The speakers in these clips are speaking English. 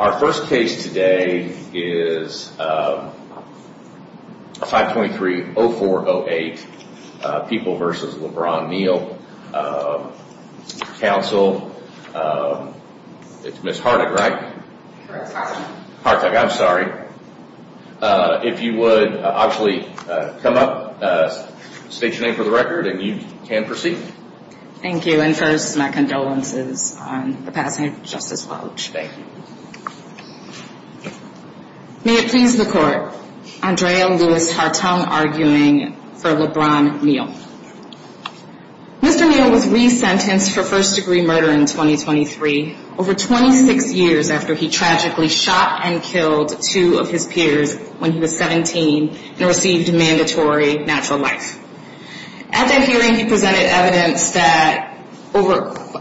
Our first case today is 523-0408, People v. LeBron Neal, Council. It's Ms. Hartick, right? Correct, Hartick. Hartick, I'm sorry. If you would, obviously, come up, state your name for the record and you can proceed. Thank you, and first, my condolences on the passing of Justice Welch. Thank you. May it please the Court, Andrea Lewis Hartung arguing for LeBron Neal. Mr. Neal was resentenced for first-degree murder in 2023, over 26 years after he tragically shot and killed two of his peers when he was 17 and received mandatory natural life. At that hearing, he presented evidence that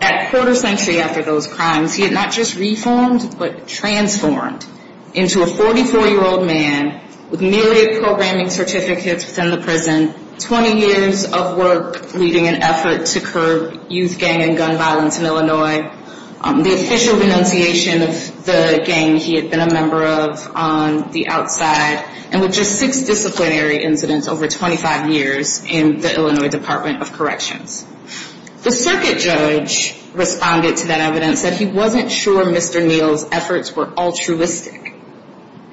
at quarter century after those crimes, he had not just reformed but transformed into a 44-year-old man with nearly a programming certificate within the prison, 20 years of work leading an effort to curb youth gang and gun violence in Illinois, the official renunciation of the gang he had been a member of on the outside, and with just six disciplinary incidents over 25 years in the Illinois Department of Corrections. The circuit judge responded to that evidence that he wasn't sure Mr. Neal's efforts were altruistic.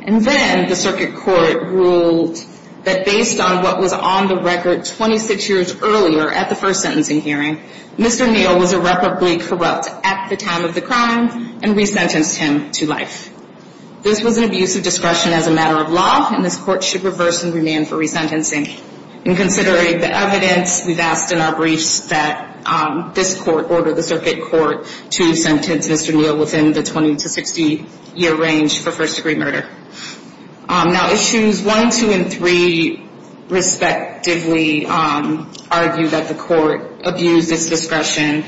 And then the circuit court ruled that based on what was on the record 26 years earlier at the first sentencing hearing, Mr. Neal was irreparably corrupt at the time of the crime and resentenced him to life. This was an abuse of discretion as a matter of law and this court should reverse and remand for resentencing. And considering the evidence, we've asked in our briefs that this court order the circuit court to sentence Mr. Neal within the 20 to 60 year range for first-degree murder. Now issues 1, 2, and 3 respectively argue that the court abused its discretion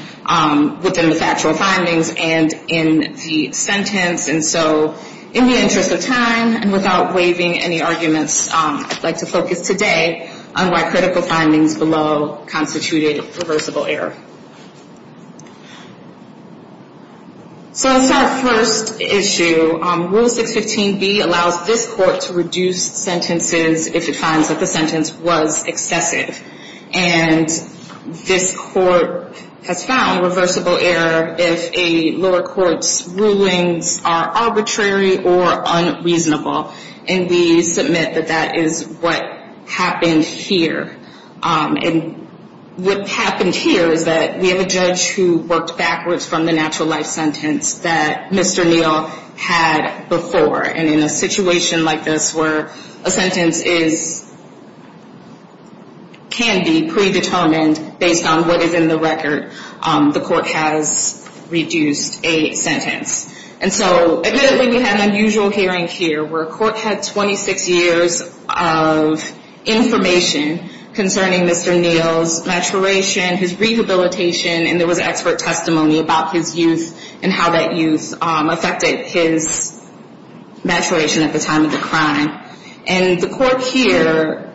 within the factual findings and in the sentence. And so in the interest of time and without waiving any arguments, I'd like to focus today on why critical findings below constituted reversible error. So as far as first issue, Rule 615B allows this court to reduce sentences if it finds that the sentence was excessive. And this court has found reversible error if a lower court's rulings are arbitrary or unreasonable. And we submit that that is what happened here. And what happened here is that we have a judge who worked backwards from the natural life sentence that Mr. Neal had before. And in a situation like this where a sentence can be predetermined based on what is in the record, the court has reduced a sentence. And so admittedly, we had an unusual hearing here where a court had 26 years of information concerning Mr. Neal's maturation, his rehabilitation, and there was expert testimony about his youth and how that youth affected his maturation at the time of the crime. And the court here,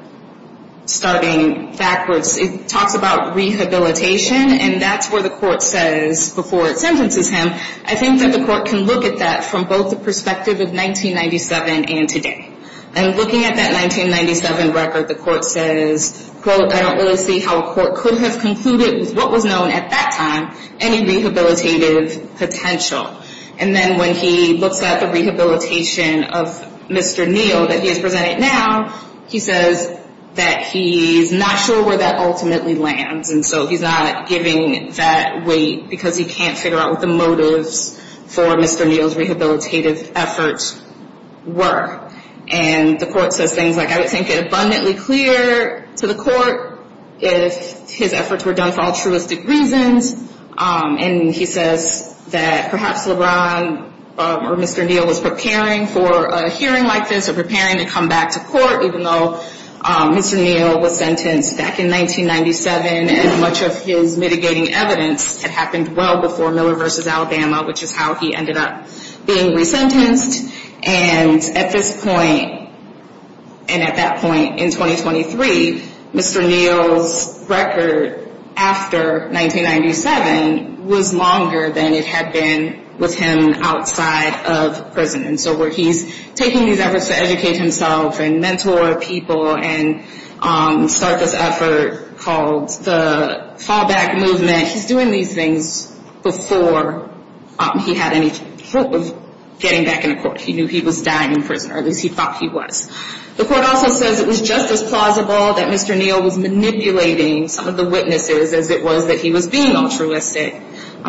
starting backwards, it talks about rehabilitation, and that's where the court says before it sentences him, I think that the court can look at that from both the perspective of 1997 and today. And looking at that 1997 record, the court says, quote, I don't really see how a court could have concluded with what was known at that time any rehabilitative potential. And then when he looks at the rehabilitation of Mr. Neal that he has presented now, he says that he's not sure where that ultimately lands. And so he's not giving that weight because he can't figure out what the motives for Mr. Neal's rehabilitative efforts were. And the court says things like, I would think it abundantly clear to the court if his efforts were done for altruistic reasons. And he says that perhaps LeBron or Mr. Neal was preparing for a hearing like this or preparing to come back to court, even though Mr. Neal was sentenced back in 1997 and much of his mitigating evidence had happened well before Miller v. Alabama, which is how he ended up being resentenced. And at this point and at that point in 2023, Mr. Neal's record after 1997 was longer than it had been with him outside of prison. And so where he's taking these efforts to educate himself and mentor people and start this effort called the fallback movement, he's doing these things before he had any hope of getting back in court. He knew he was dying in prison, or at least he thought he was. The court also says it was just as plausible that Mr. Neal was manipulating some of the witnesses as it was that he was being altruistic.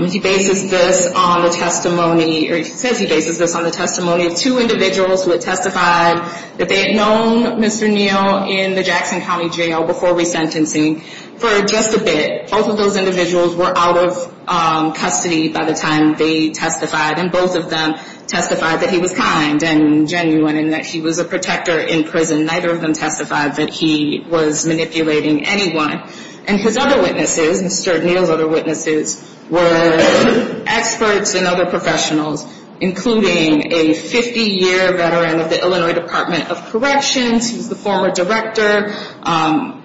He bases this on the testimony or he says he bases this on the testimony of two individuals who had testified that they had known Mr. Neal in the Jackson County Jail before resentencing for just a bit. Both of those individuals were out of custody by the time they testified, and both of them testified that he was kind and genuine and that he was a protector in prison. Neither of them testified that he was manipulating anyone. And his other witnesses, Mr. Neal's other witnesses, were experts and other professionals, including a 50-year veteran of the Illinois Department of Corrections. He was the former director,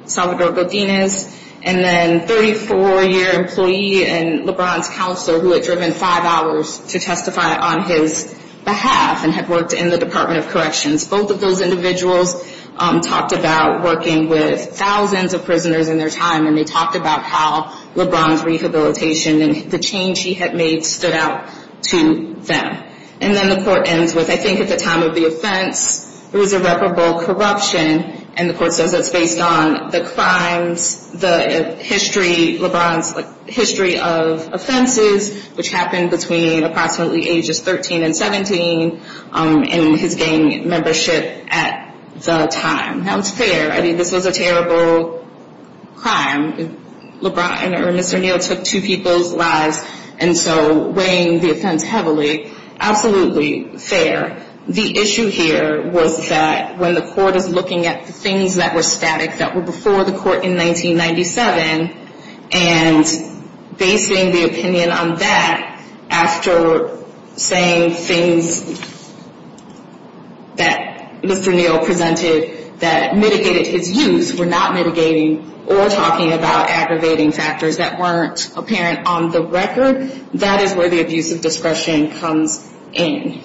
Salvador Godinez. And then a 34-year employee and LeBron's counselor who had driven five hours to testify on his behalf and had worked in the Department of Corrections. Both of those individuals talked about working with thousands of prisoners in their time, and they talked about how LeBron's rehabilitation and the change he had made stood out to them. And then the court ends with, I think at the time of the offense, there was irreparable corruption. And the court says that's based on the crimes, the history, LeBron's history of offenses, which happened between approximately ages 13 and 17, and his gang membership at the time. Now, it's fair. I mean, this was a terrible crime. LeBron or Mr. Neal took two people's lives, and so weighing the offense heavily, absolutely fair. The issue here was that when the court is looking at things that were static, that were before the court in 1997, and basing the opinion on that after saying things that Mr. Neal presented that mitigated his use, were not mitigating or talking about aggravating factors that weren't apparent on the record, that is where the abuse of discretion comes in.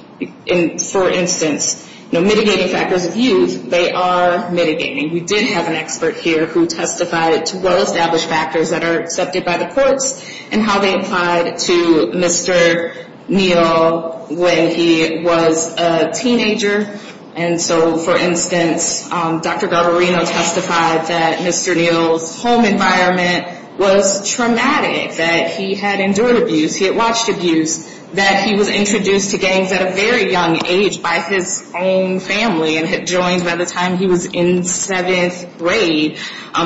For instance, mitigating factors of use, they are mitigating. We did have an expert here who testified to well-established factors that are accepted by the courts and how they applied to Mr. Neal when he was a teenager. And so, for instance, Dr. Garbarino testified that Mr. Neal's home environment was traumatic, that he had endured abuse, he had watched abuse, that he was introduced to gangs at a very young age by his own family and had joined by the time he was in seventh grade.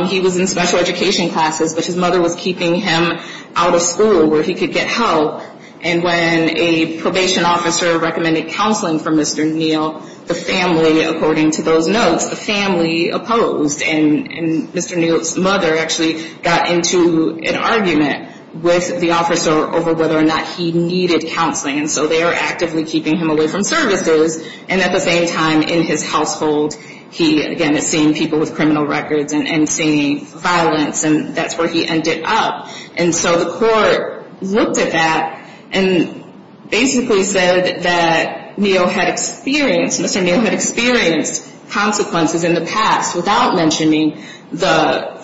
He was in special education classes, but his mother was keeping him out of school where he could get help. And when a probation officer recommended counseling for Mr. Neal, the family, according to those notes, the family opposed. And Mr. Neal's mother actually got into an argument with the officer over whether or not he needed counseling. And so they are actively keeping him away from services. And at the same time, in his household, he, again, is seeing people with criminal records and seeing violence. And that's where he ended up. And so the court looked at that and basically said that Neal had experienced, Mr. Neal had experienced consequences in the past without mentioning the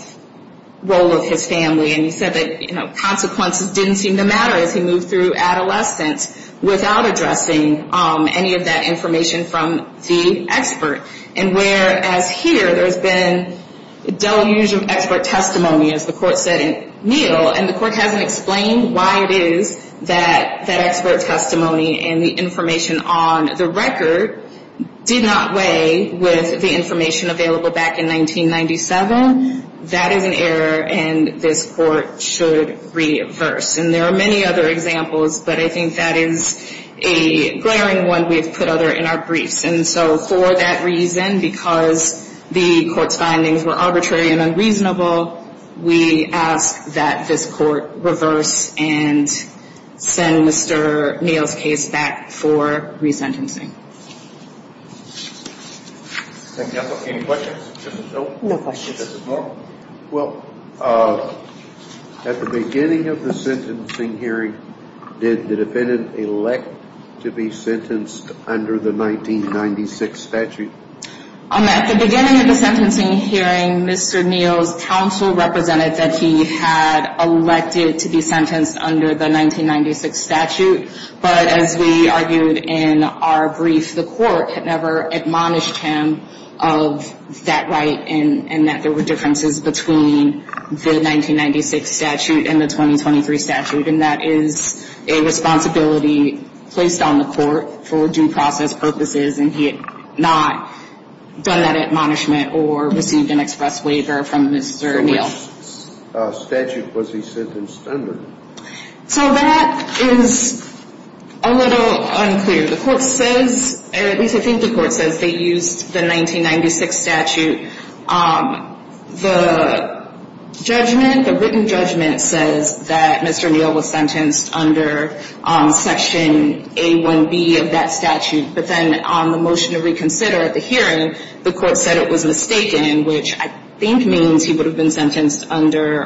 role of his family. And he said that, you know, consequences didn't seem to matter as he moved through adolescence without addressing any of that information from the expert. And whereas here, there's been dull use of expert testimony, as the court said in Neal, and the court hasn't explained why it is that that expert testimony and the information on the record did not weigh with the information available back in 1997. That is an error, and this court should reverse. And there are many other examples, but I think that is a glaring one we have put other in our briefs. And so for that reason, because the court's findings were arbitrary and unreasonable, we ask that this court reverse and send Mr. Neal's case back for resentencing. Any questions? No questions. Well, at the beginning of the sentencing hearing, did the defendant elect to be sentenced under the 1996 statute? At the beginning of the sentencing hearing, Mr. Neal's counsel represented that he had elected to be sentenced under the 1996 statute. But as we argued in our brief, the court had never admonished him of that right and that there were differences between the 1996 statute and the 2023 statute. And that is a responsibility placed on the court for due process purposes, and he had not done that admonishment or received an express waiver from Mr. Neal. So which statute was he sentenced under? So that is a little unclear. The court says, or at least I think the court says they used the 1996 statute. The judgment, the written judgment says that Mr. Neal was sentenced under Section A1B of that statute. But then on the motion to reconsider at the hearing, the court said it was mistaken, which I think means he would have been sentenced under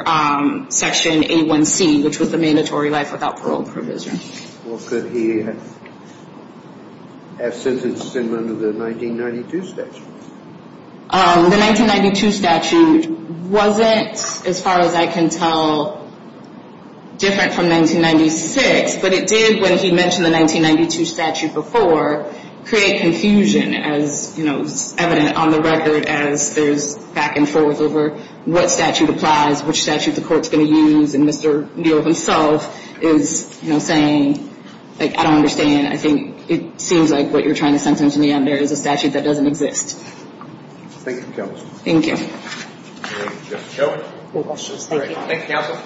Section A1C, which was the mandatory life without parole provision. Or could he have sentenced him under the 1992 statute? The 1992 statute wasn't, as far as I can tell, different from 1996. But it did, when he mentioned the 1992 statute before, create confusion as, you know, evident on the record as there's back and forth over what statute applies, which statute the court's going to use. And Mr. Neal himself is, you know, saying, like, I don't understand. I think it seems like what you're trying to sentence him to be under is a statute that doesn't exist. Thank you, Counsel. Thank you. Thank you, Counsel.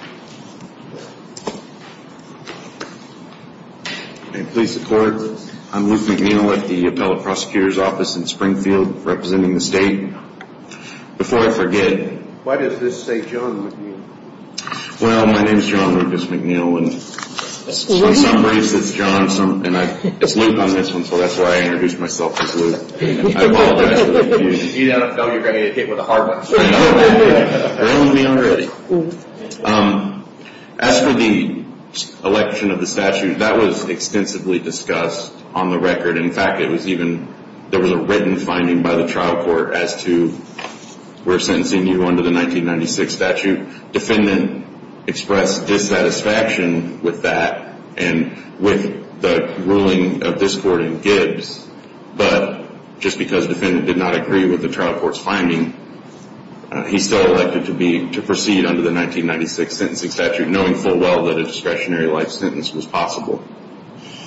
May it please the Court. I'm Luke McNeill at the Appellate Prosecutor's Office in Springfield representing the state. Before I forget. Why does this say John McNeill? Well, my name's John Lucas McNeill. And on some briefs it's John, and it's Luke on this one, so that's why I introduced myself as Luke. I apologize for the confusion. You don't know you're going to get hit with a hard one. I know. As for the election of the statute, that was extensively discussed on the record. In fact, there was a written finding by the trial court as to we're sentencing you under the 1996 statute. Defendant expressed dissatisfaction with that and with the ruling of this court in Gibbs, but just because defendant did not agree with the trial court's finding, he's still elected to proceed under the 1996 sentencing statute, knowing full well that a discretionary life sentence was possible.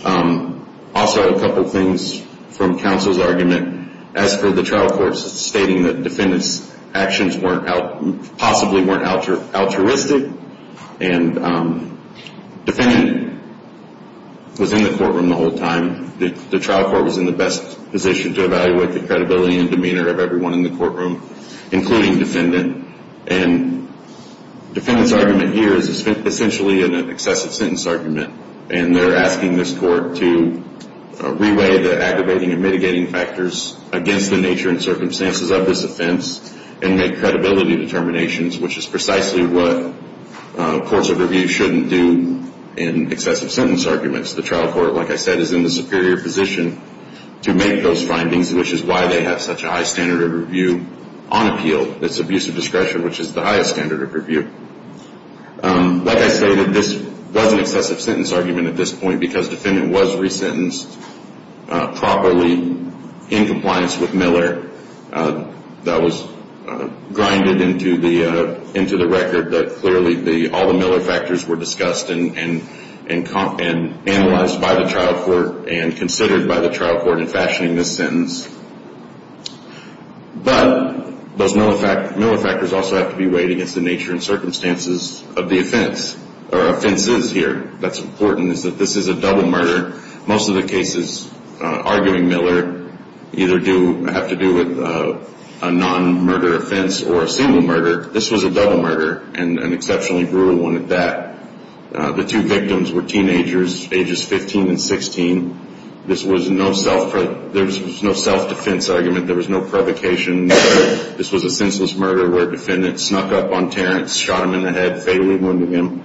Also, a couple things from counsel's argument. As for the trial court stating that defendant's actions possibly weren't altruistic, and defendant was in the courtroom the whole time. The trial court was in the best position to evaluate the credibility and demeanor of everyone in the courtroom, including defendant. And defendant's argument here is essentially an excessive sentence argument, and they're asking this court to re-weigh the aggravating and mitigating factors against the nature and circumstances of this offense and make credibility determinations, which is precisely what courts of review shouldn't do in excessive sentence arguments. The trial court, like I said, is in the superior position to make those findings, which is why they have such a high standard of review on appeal. It's abusive discretion, which is the highest standard of review. Like I say, this was an excessive sentence argument at this point because defendant was resentenced properly in compliance with Miller. That was grinded into the record that clearly all the Miller factors were discussed and analyzed by the trial court and considered by the trial court in fashioning this sentence. But those Miller factors also have to be weighed against the nature and circumstances of the offense, or offenses here. What's important is that this is a double murder. Most of the cases arguing Miller either have to do with a non-murder offense or a single murder. This was a double murder, and an exceptionally brutal one at that. The two victims were teenagers, ages 15 and 16. There was no self-defense argument. There was no provocation. This was a senseless murder where defendant snuck up on Terrence, shot him in the head, fatally wounded him.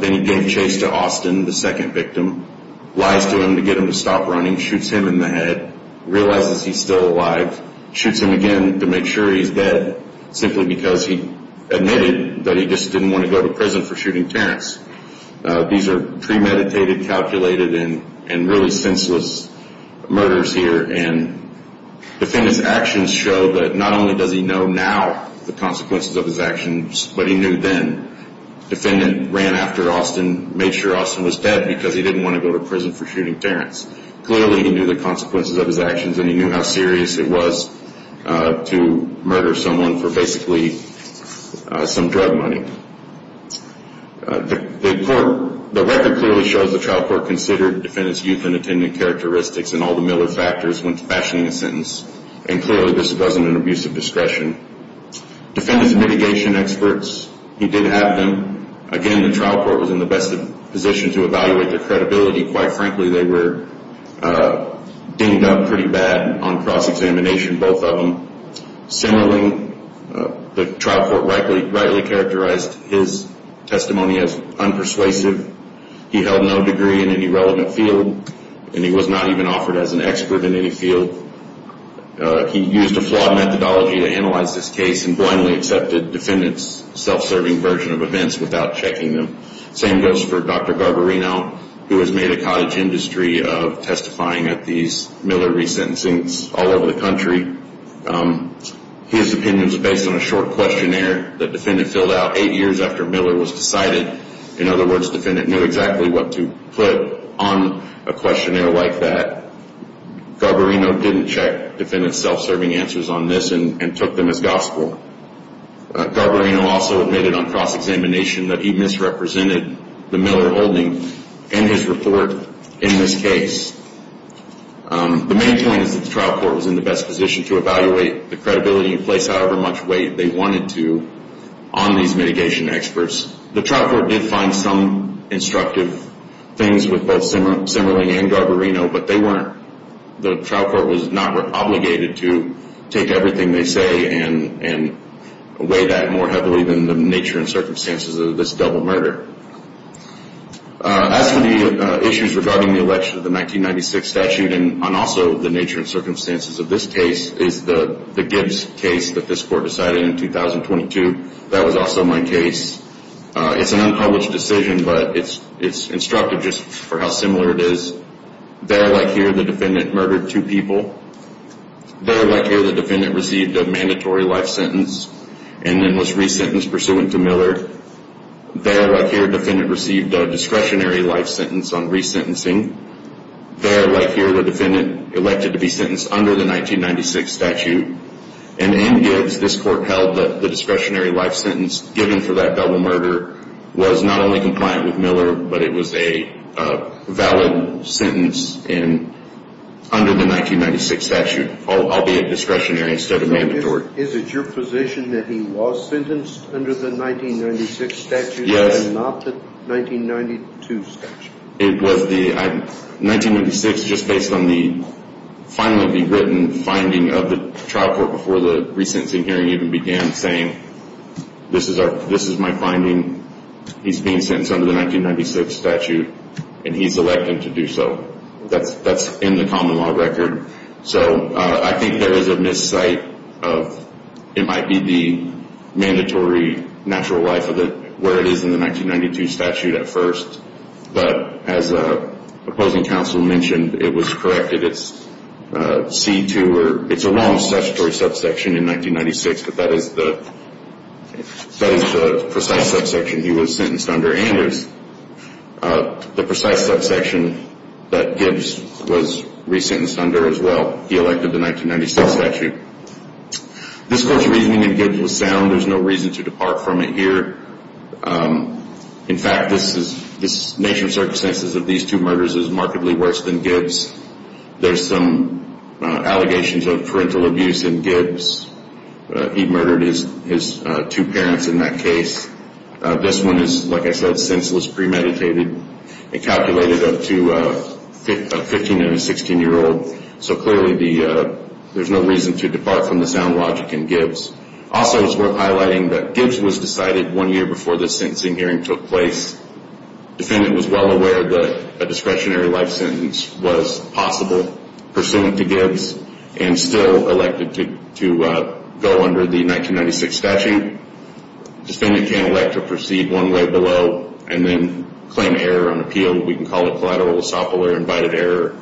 Then he gave chase to Austin, the second victim, lies to him to get him to stop running, shoots him in the head, realizes he's still alive, shoots him again to make sure he's dead, simply because he admitted that he just didn't want to go to prison for shooting Terrence. These are premeditated, calculated, and really senseless murders here. Defendant's actions show that not only does he know now the consequences of his actions, but he knew then. Defendant ran after Austin, made sure Austin was dead because he didn't want to go to prison for shooting Terrence. Clearly he knew the consequences of his actions, and he knew how serious it was to murder someone for basically some drug money. The record clearly shows the trial court considered defendant's youth and attendant characteristics and all the Miller factors when fashioning a sentence, and clearly this wasn't an abuse of discretion. Defendant's mitigation experts, he did have them. Again, the trial court was in the best position to evaluate their credibility. Quite frankly, they were dinged up pretty bad on cross-examination, both of them. Similarly, the trial court rightly characterized his testimony as unpersuasive. He held no degree in any relevant field, and he was not even offered as an expert in any field. He used a flawed methodology to analyze this case and blindly accepted defendant's self-serving version of events without checking them. Same goes for Dr. Garbarino, who has made a cottage industry of testifying at these Miller resentencings all over the country. His opinion was based on a short questionnaire that defendant filled out eight years after Miller was decided. In other words, defendant knew exactly what to put on a questionnaire like that. Garbarino didn't check defendant's self-serving answers on this and took them as gospel. Garbarino also admitted on cross-examination that he misrepresented the Miller holding in his report in this case. The main point is that the trial court was in the best position to evaluate the credibility and place however much weight they wanted to on these mitigation experts. The trial court did find some instructive things with both Simmerling and Garbarino, but they weren't. The trial court was not obligated to take everything they say and weigh that more heavily than the nature and circumstances of this double murder. As for the issues regarding the election of the 1996 statute and also the nature and circumstances of this case is the Gibbs case that this court decided in 2022. That was also my case. It's an unpublished decision, but it's instructive just for how similar it is. There, like here, the defendant murdered two people. There, like here, the defendant received a mandatory life sentence and then was re-sentenced pursuant to Miller. There, like here, the defendant received a discretionary life sentence on re-sentencing. There, like here, the defendant elected to be sentenced under the 1996 statute. And in Gibbs, this court held that the discretionary life sentence given for that double murder was not only compliant with Miller, but it was a valid sentence under the 1996 statute, albeit discretionary instead of mandatory. Is it your position that he was sentenced under the 1996 statute and not the 1992 statute? It was the 1996, just based on the finally rewritten finding of the trial court before the re-sentencing hearing even began, saying this is my finding. He's being sentenced under the 1996 statute, and he's elected to do so. That's in the common law record. So I think there is a missight of it might be the mandatory natural life of it where it is in the 1992 statute at first. But as the opposing counsel mentioned, it was corrected. It's C-2, or it's a wrong statutory subsection in 1996, but that is the precise subsection he was sentenced under, and it's the precise subsection that Gibbs was re-sentenced under as well. He elected the 1996 statute. This court's reasoning in Gibbs was sound. There's no reason to depart from it here. In fact, this nature of circumstances of these two murders is markedly worse than Gibbs. There's some allegations of parental abuse in Gibbs. He murdered his two parents in that case. This one is, like I said, senseless premeditated. It calculated up to a 15- and a 16-year-old, so clearly there's no reason to depart from the sound logic in Gibbs. Also, it's worth highlighting that Gibbs was decided one year before this sentencing hearing took place. The defendant was well aware that a discretionary life sentence was possible pursuant to Gibbs and still elected to go under the 1996 statute. The defendant can elect to proceed one way below and then claim error on appeal. We can call it collateral esophobia or invited error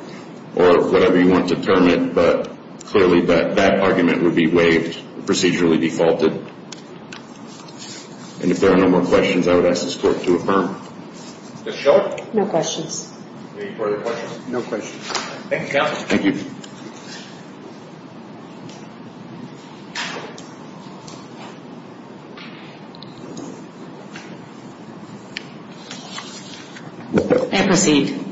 or whatever you want to term it, but clearly that argument would be waived and procedurally defaulted. And if there are no more questions, I would ask this court to affirm. Mr. Schultz? No questions. Any further questions? No questions. Thank you, counsel. Thank you. And proceed.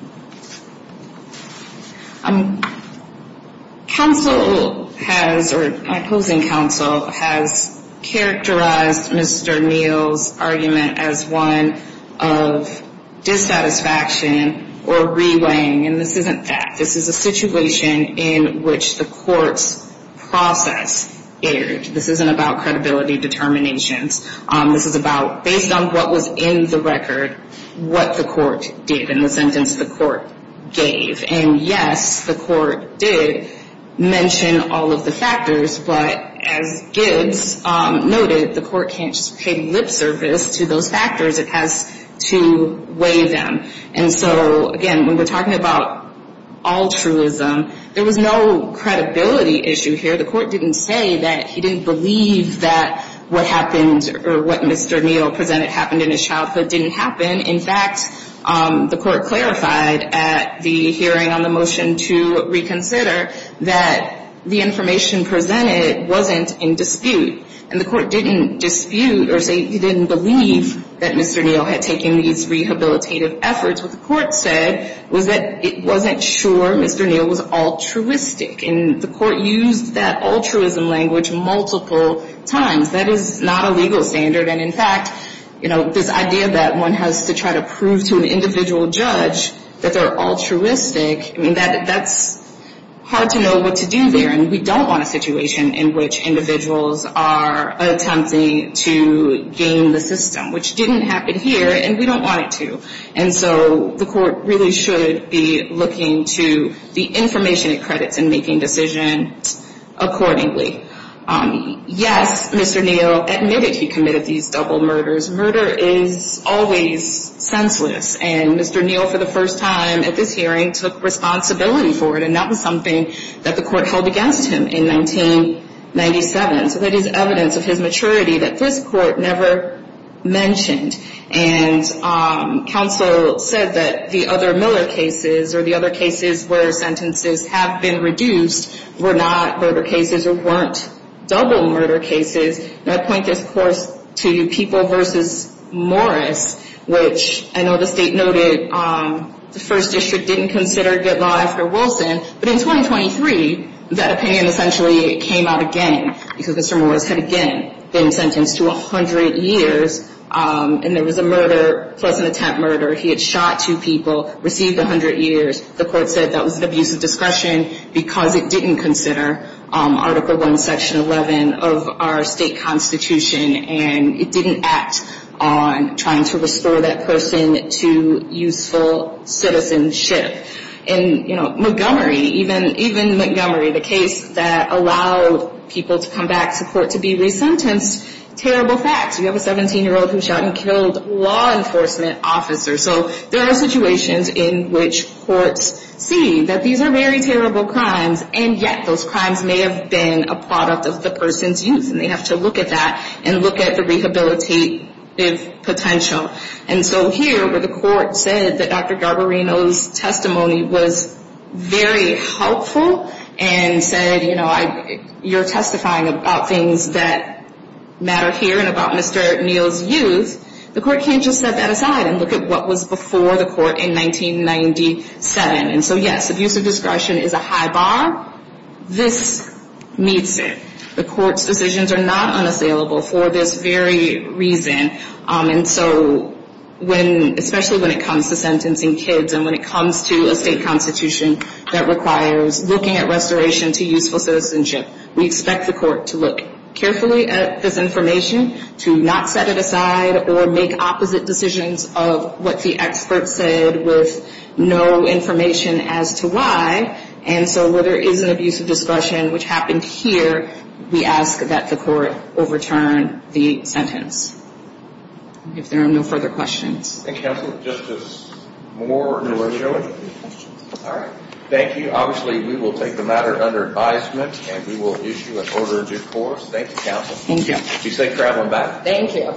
Counsel has, or my opposing counsel, has characterized Mr. Neal's argument as one of dissatisfaction or reweighing, and this isn't that. This is a situation in which the court's process erred. This isn't about credibility determinations. This is about, based on what was in the record, what the court did in the sentence the court gave. And, yes, the court did mention all of the factors, but as Gibbs noted, the court can't just pay lip service to those factors. It has to weigh them. And so, again, when we're talking about altruism, there was no credibility issue here. The court didn't say that he didn't believe that what happened or what Mr. Neal presented happened in his childhood didn't happen. In fact, the court clarified at the hearing on the motion to reconsider that the information presented wasn't in dispute, and the court didn't dispute or say he didn't believe that Mr. Neal had taken these rehabilitative efforts. What the court said was that it wasn't sure Mr. Neal was altruistic, and the court used that altruism language multiple times. That is not a legal standard, and, in fact, you know, this idea that one has to try to prove to an individual judge that they're altruistic, I mean, that's hard to know what to do there, and we don't want a situation in which individuals are attempting to game the system, which didn't happen here, and we don't want it to. And so the court really should be looking to the information it credits in making decisions accordingly. Yes, Mr. Neal admitted he committed these double murders. Murder is always senseless, and Mr. Neal, for the first time at this hearing, took responsibility for it, and that was something that the court held against him in 1997. So that is evidence of his maturity that this court never mentioned. And counsel said that the other Miller cases or the other cases where sentences have been reduced were not murder cases or weren't double murder cases. And I point this, of course, to People v. Morris, which I know the state noted the first district didn't consider good law after Wilson, but in 2023 that opinion essentially came out again because Mr. Morris had again been sentenced to 100 years, and there was a murder plus an attempt murder. He had shot two people, received 100 years. The court said that was an abuse of discretion because it didn't consider Article I, Section 11 of our state constitution, and it didn't act on trying to restore that person to useful citizenship. In Montgomery, even Montgomery, the case that allowed people to come back to court to be resentenced, terrible facts. You have a 17-year-old who shot and killed a law enforcement officer. So there are situations in which courts see that these are very terrible crimes, and yet those crimes may have been a product of the person's youth, and they have to look at that and look at the rehabilitative potential. And so here where the court said that Dr. Garbarino's testimony was very helpful and said, you know, you're testifying about things that matter here and about Mr. Neal's youth, the court can't just set that aside and look at what was before the court in 1997. And so, yes, abuse of discretion is a high bar. This meets it. The court's decisions are not unassailable for this very reason. And so when, especially when it comes to sentencing kids and when it comes to a state constitution that requires looking at restoration to useful citizenship, we expect the court to look carefully at this information, to not set it aside or make opposite decisions of what the expert said with no information as to why. And so where there is an abuse of discretion, which happened here, we ask that the court overturn the sentence. If there are no further questions. Thank you, counsel. Justice Moore, do you have a question? All right. Thank you. Obviously, we will take the matter under advisement, and we will issue an order in due course. Thank you, counsel. Thank you. Be safe traveling back. Thank you.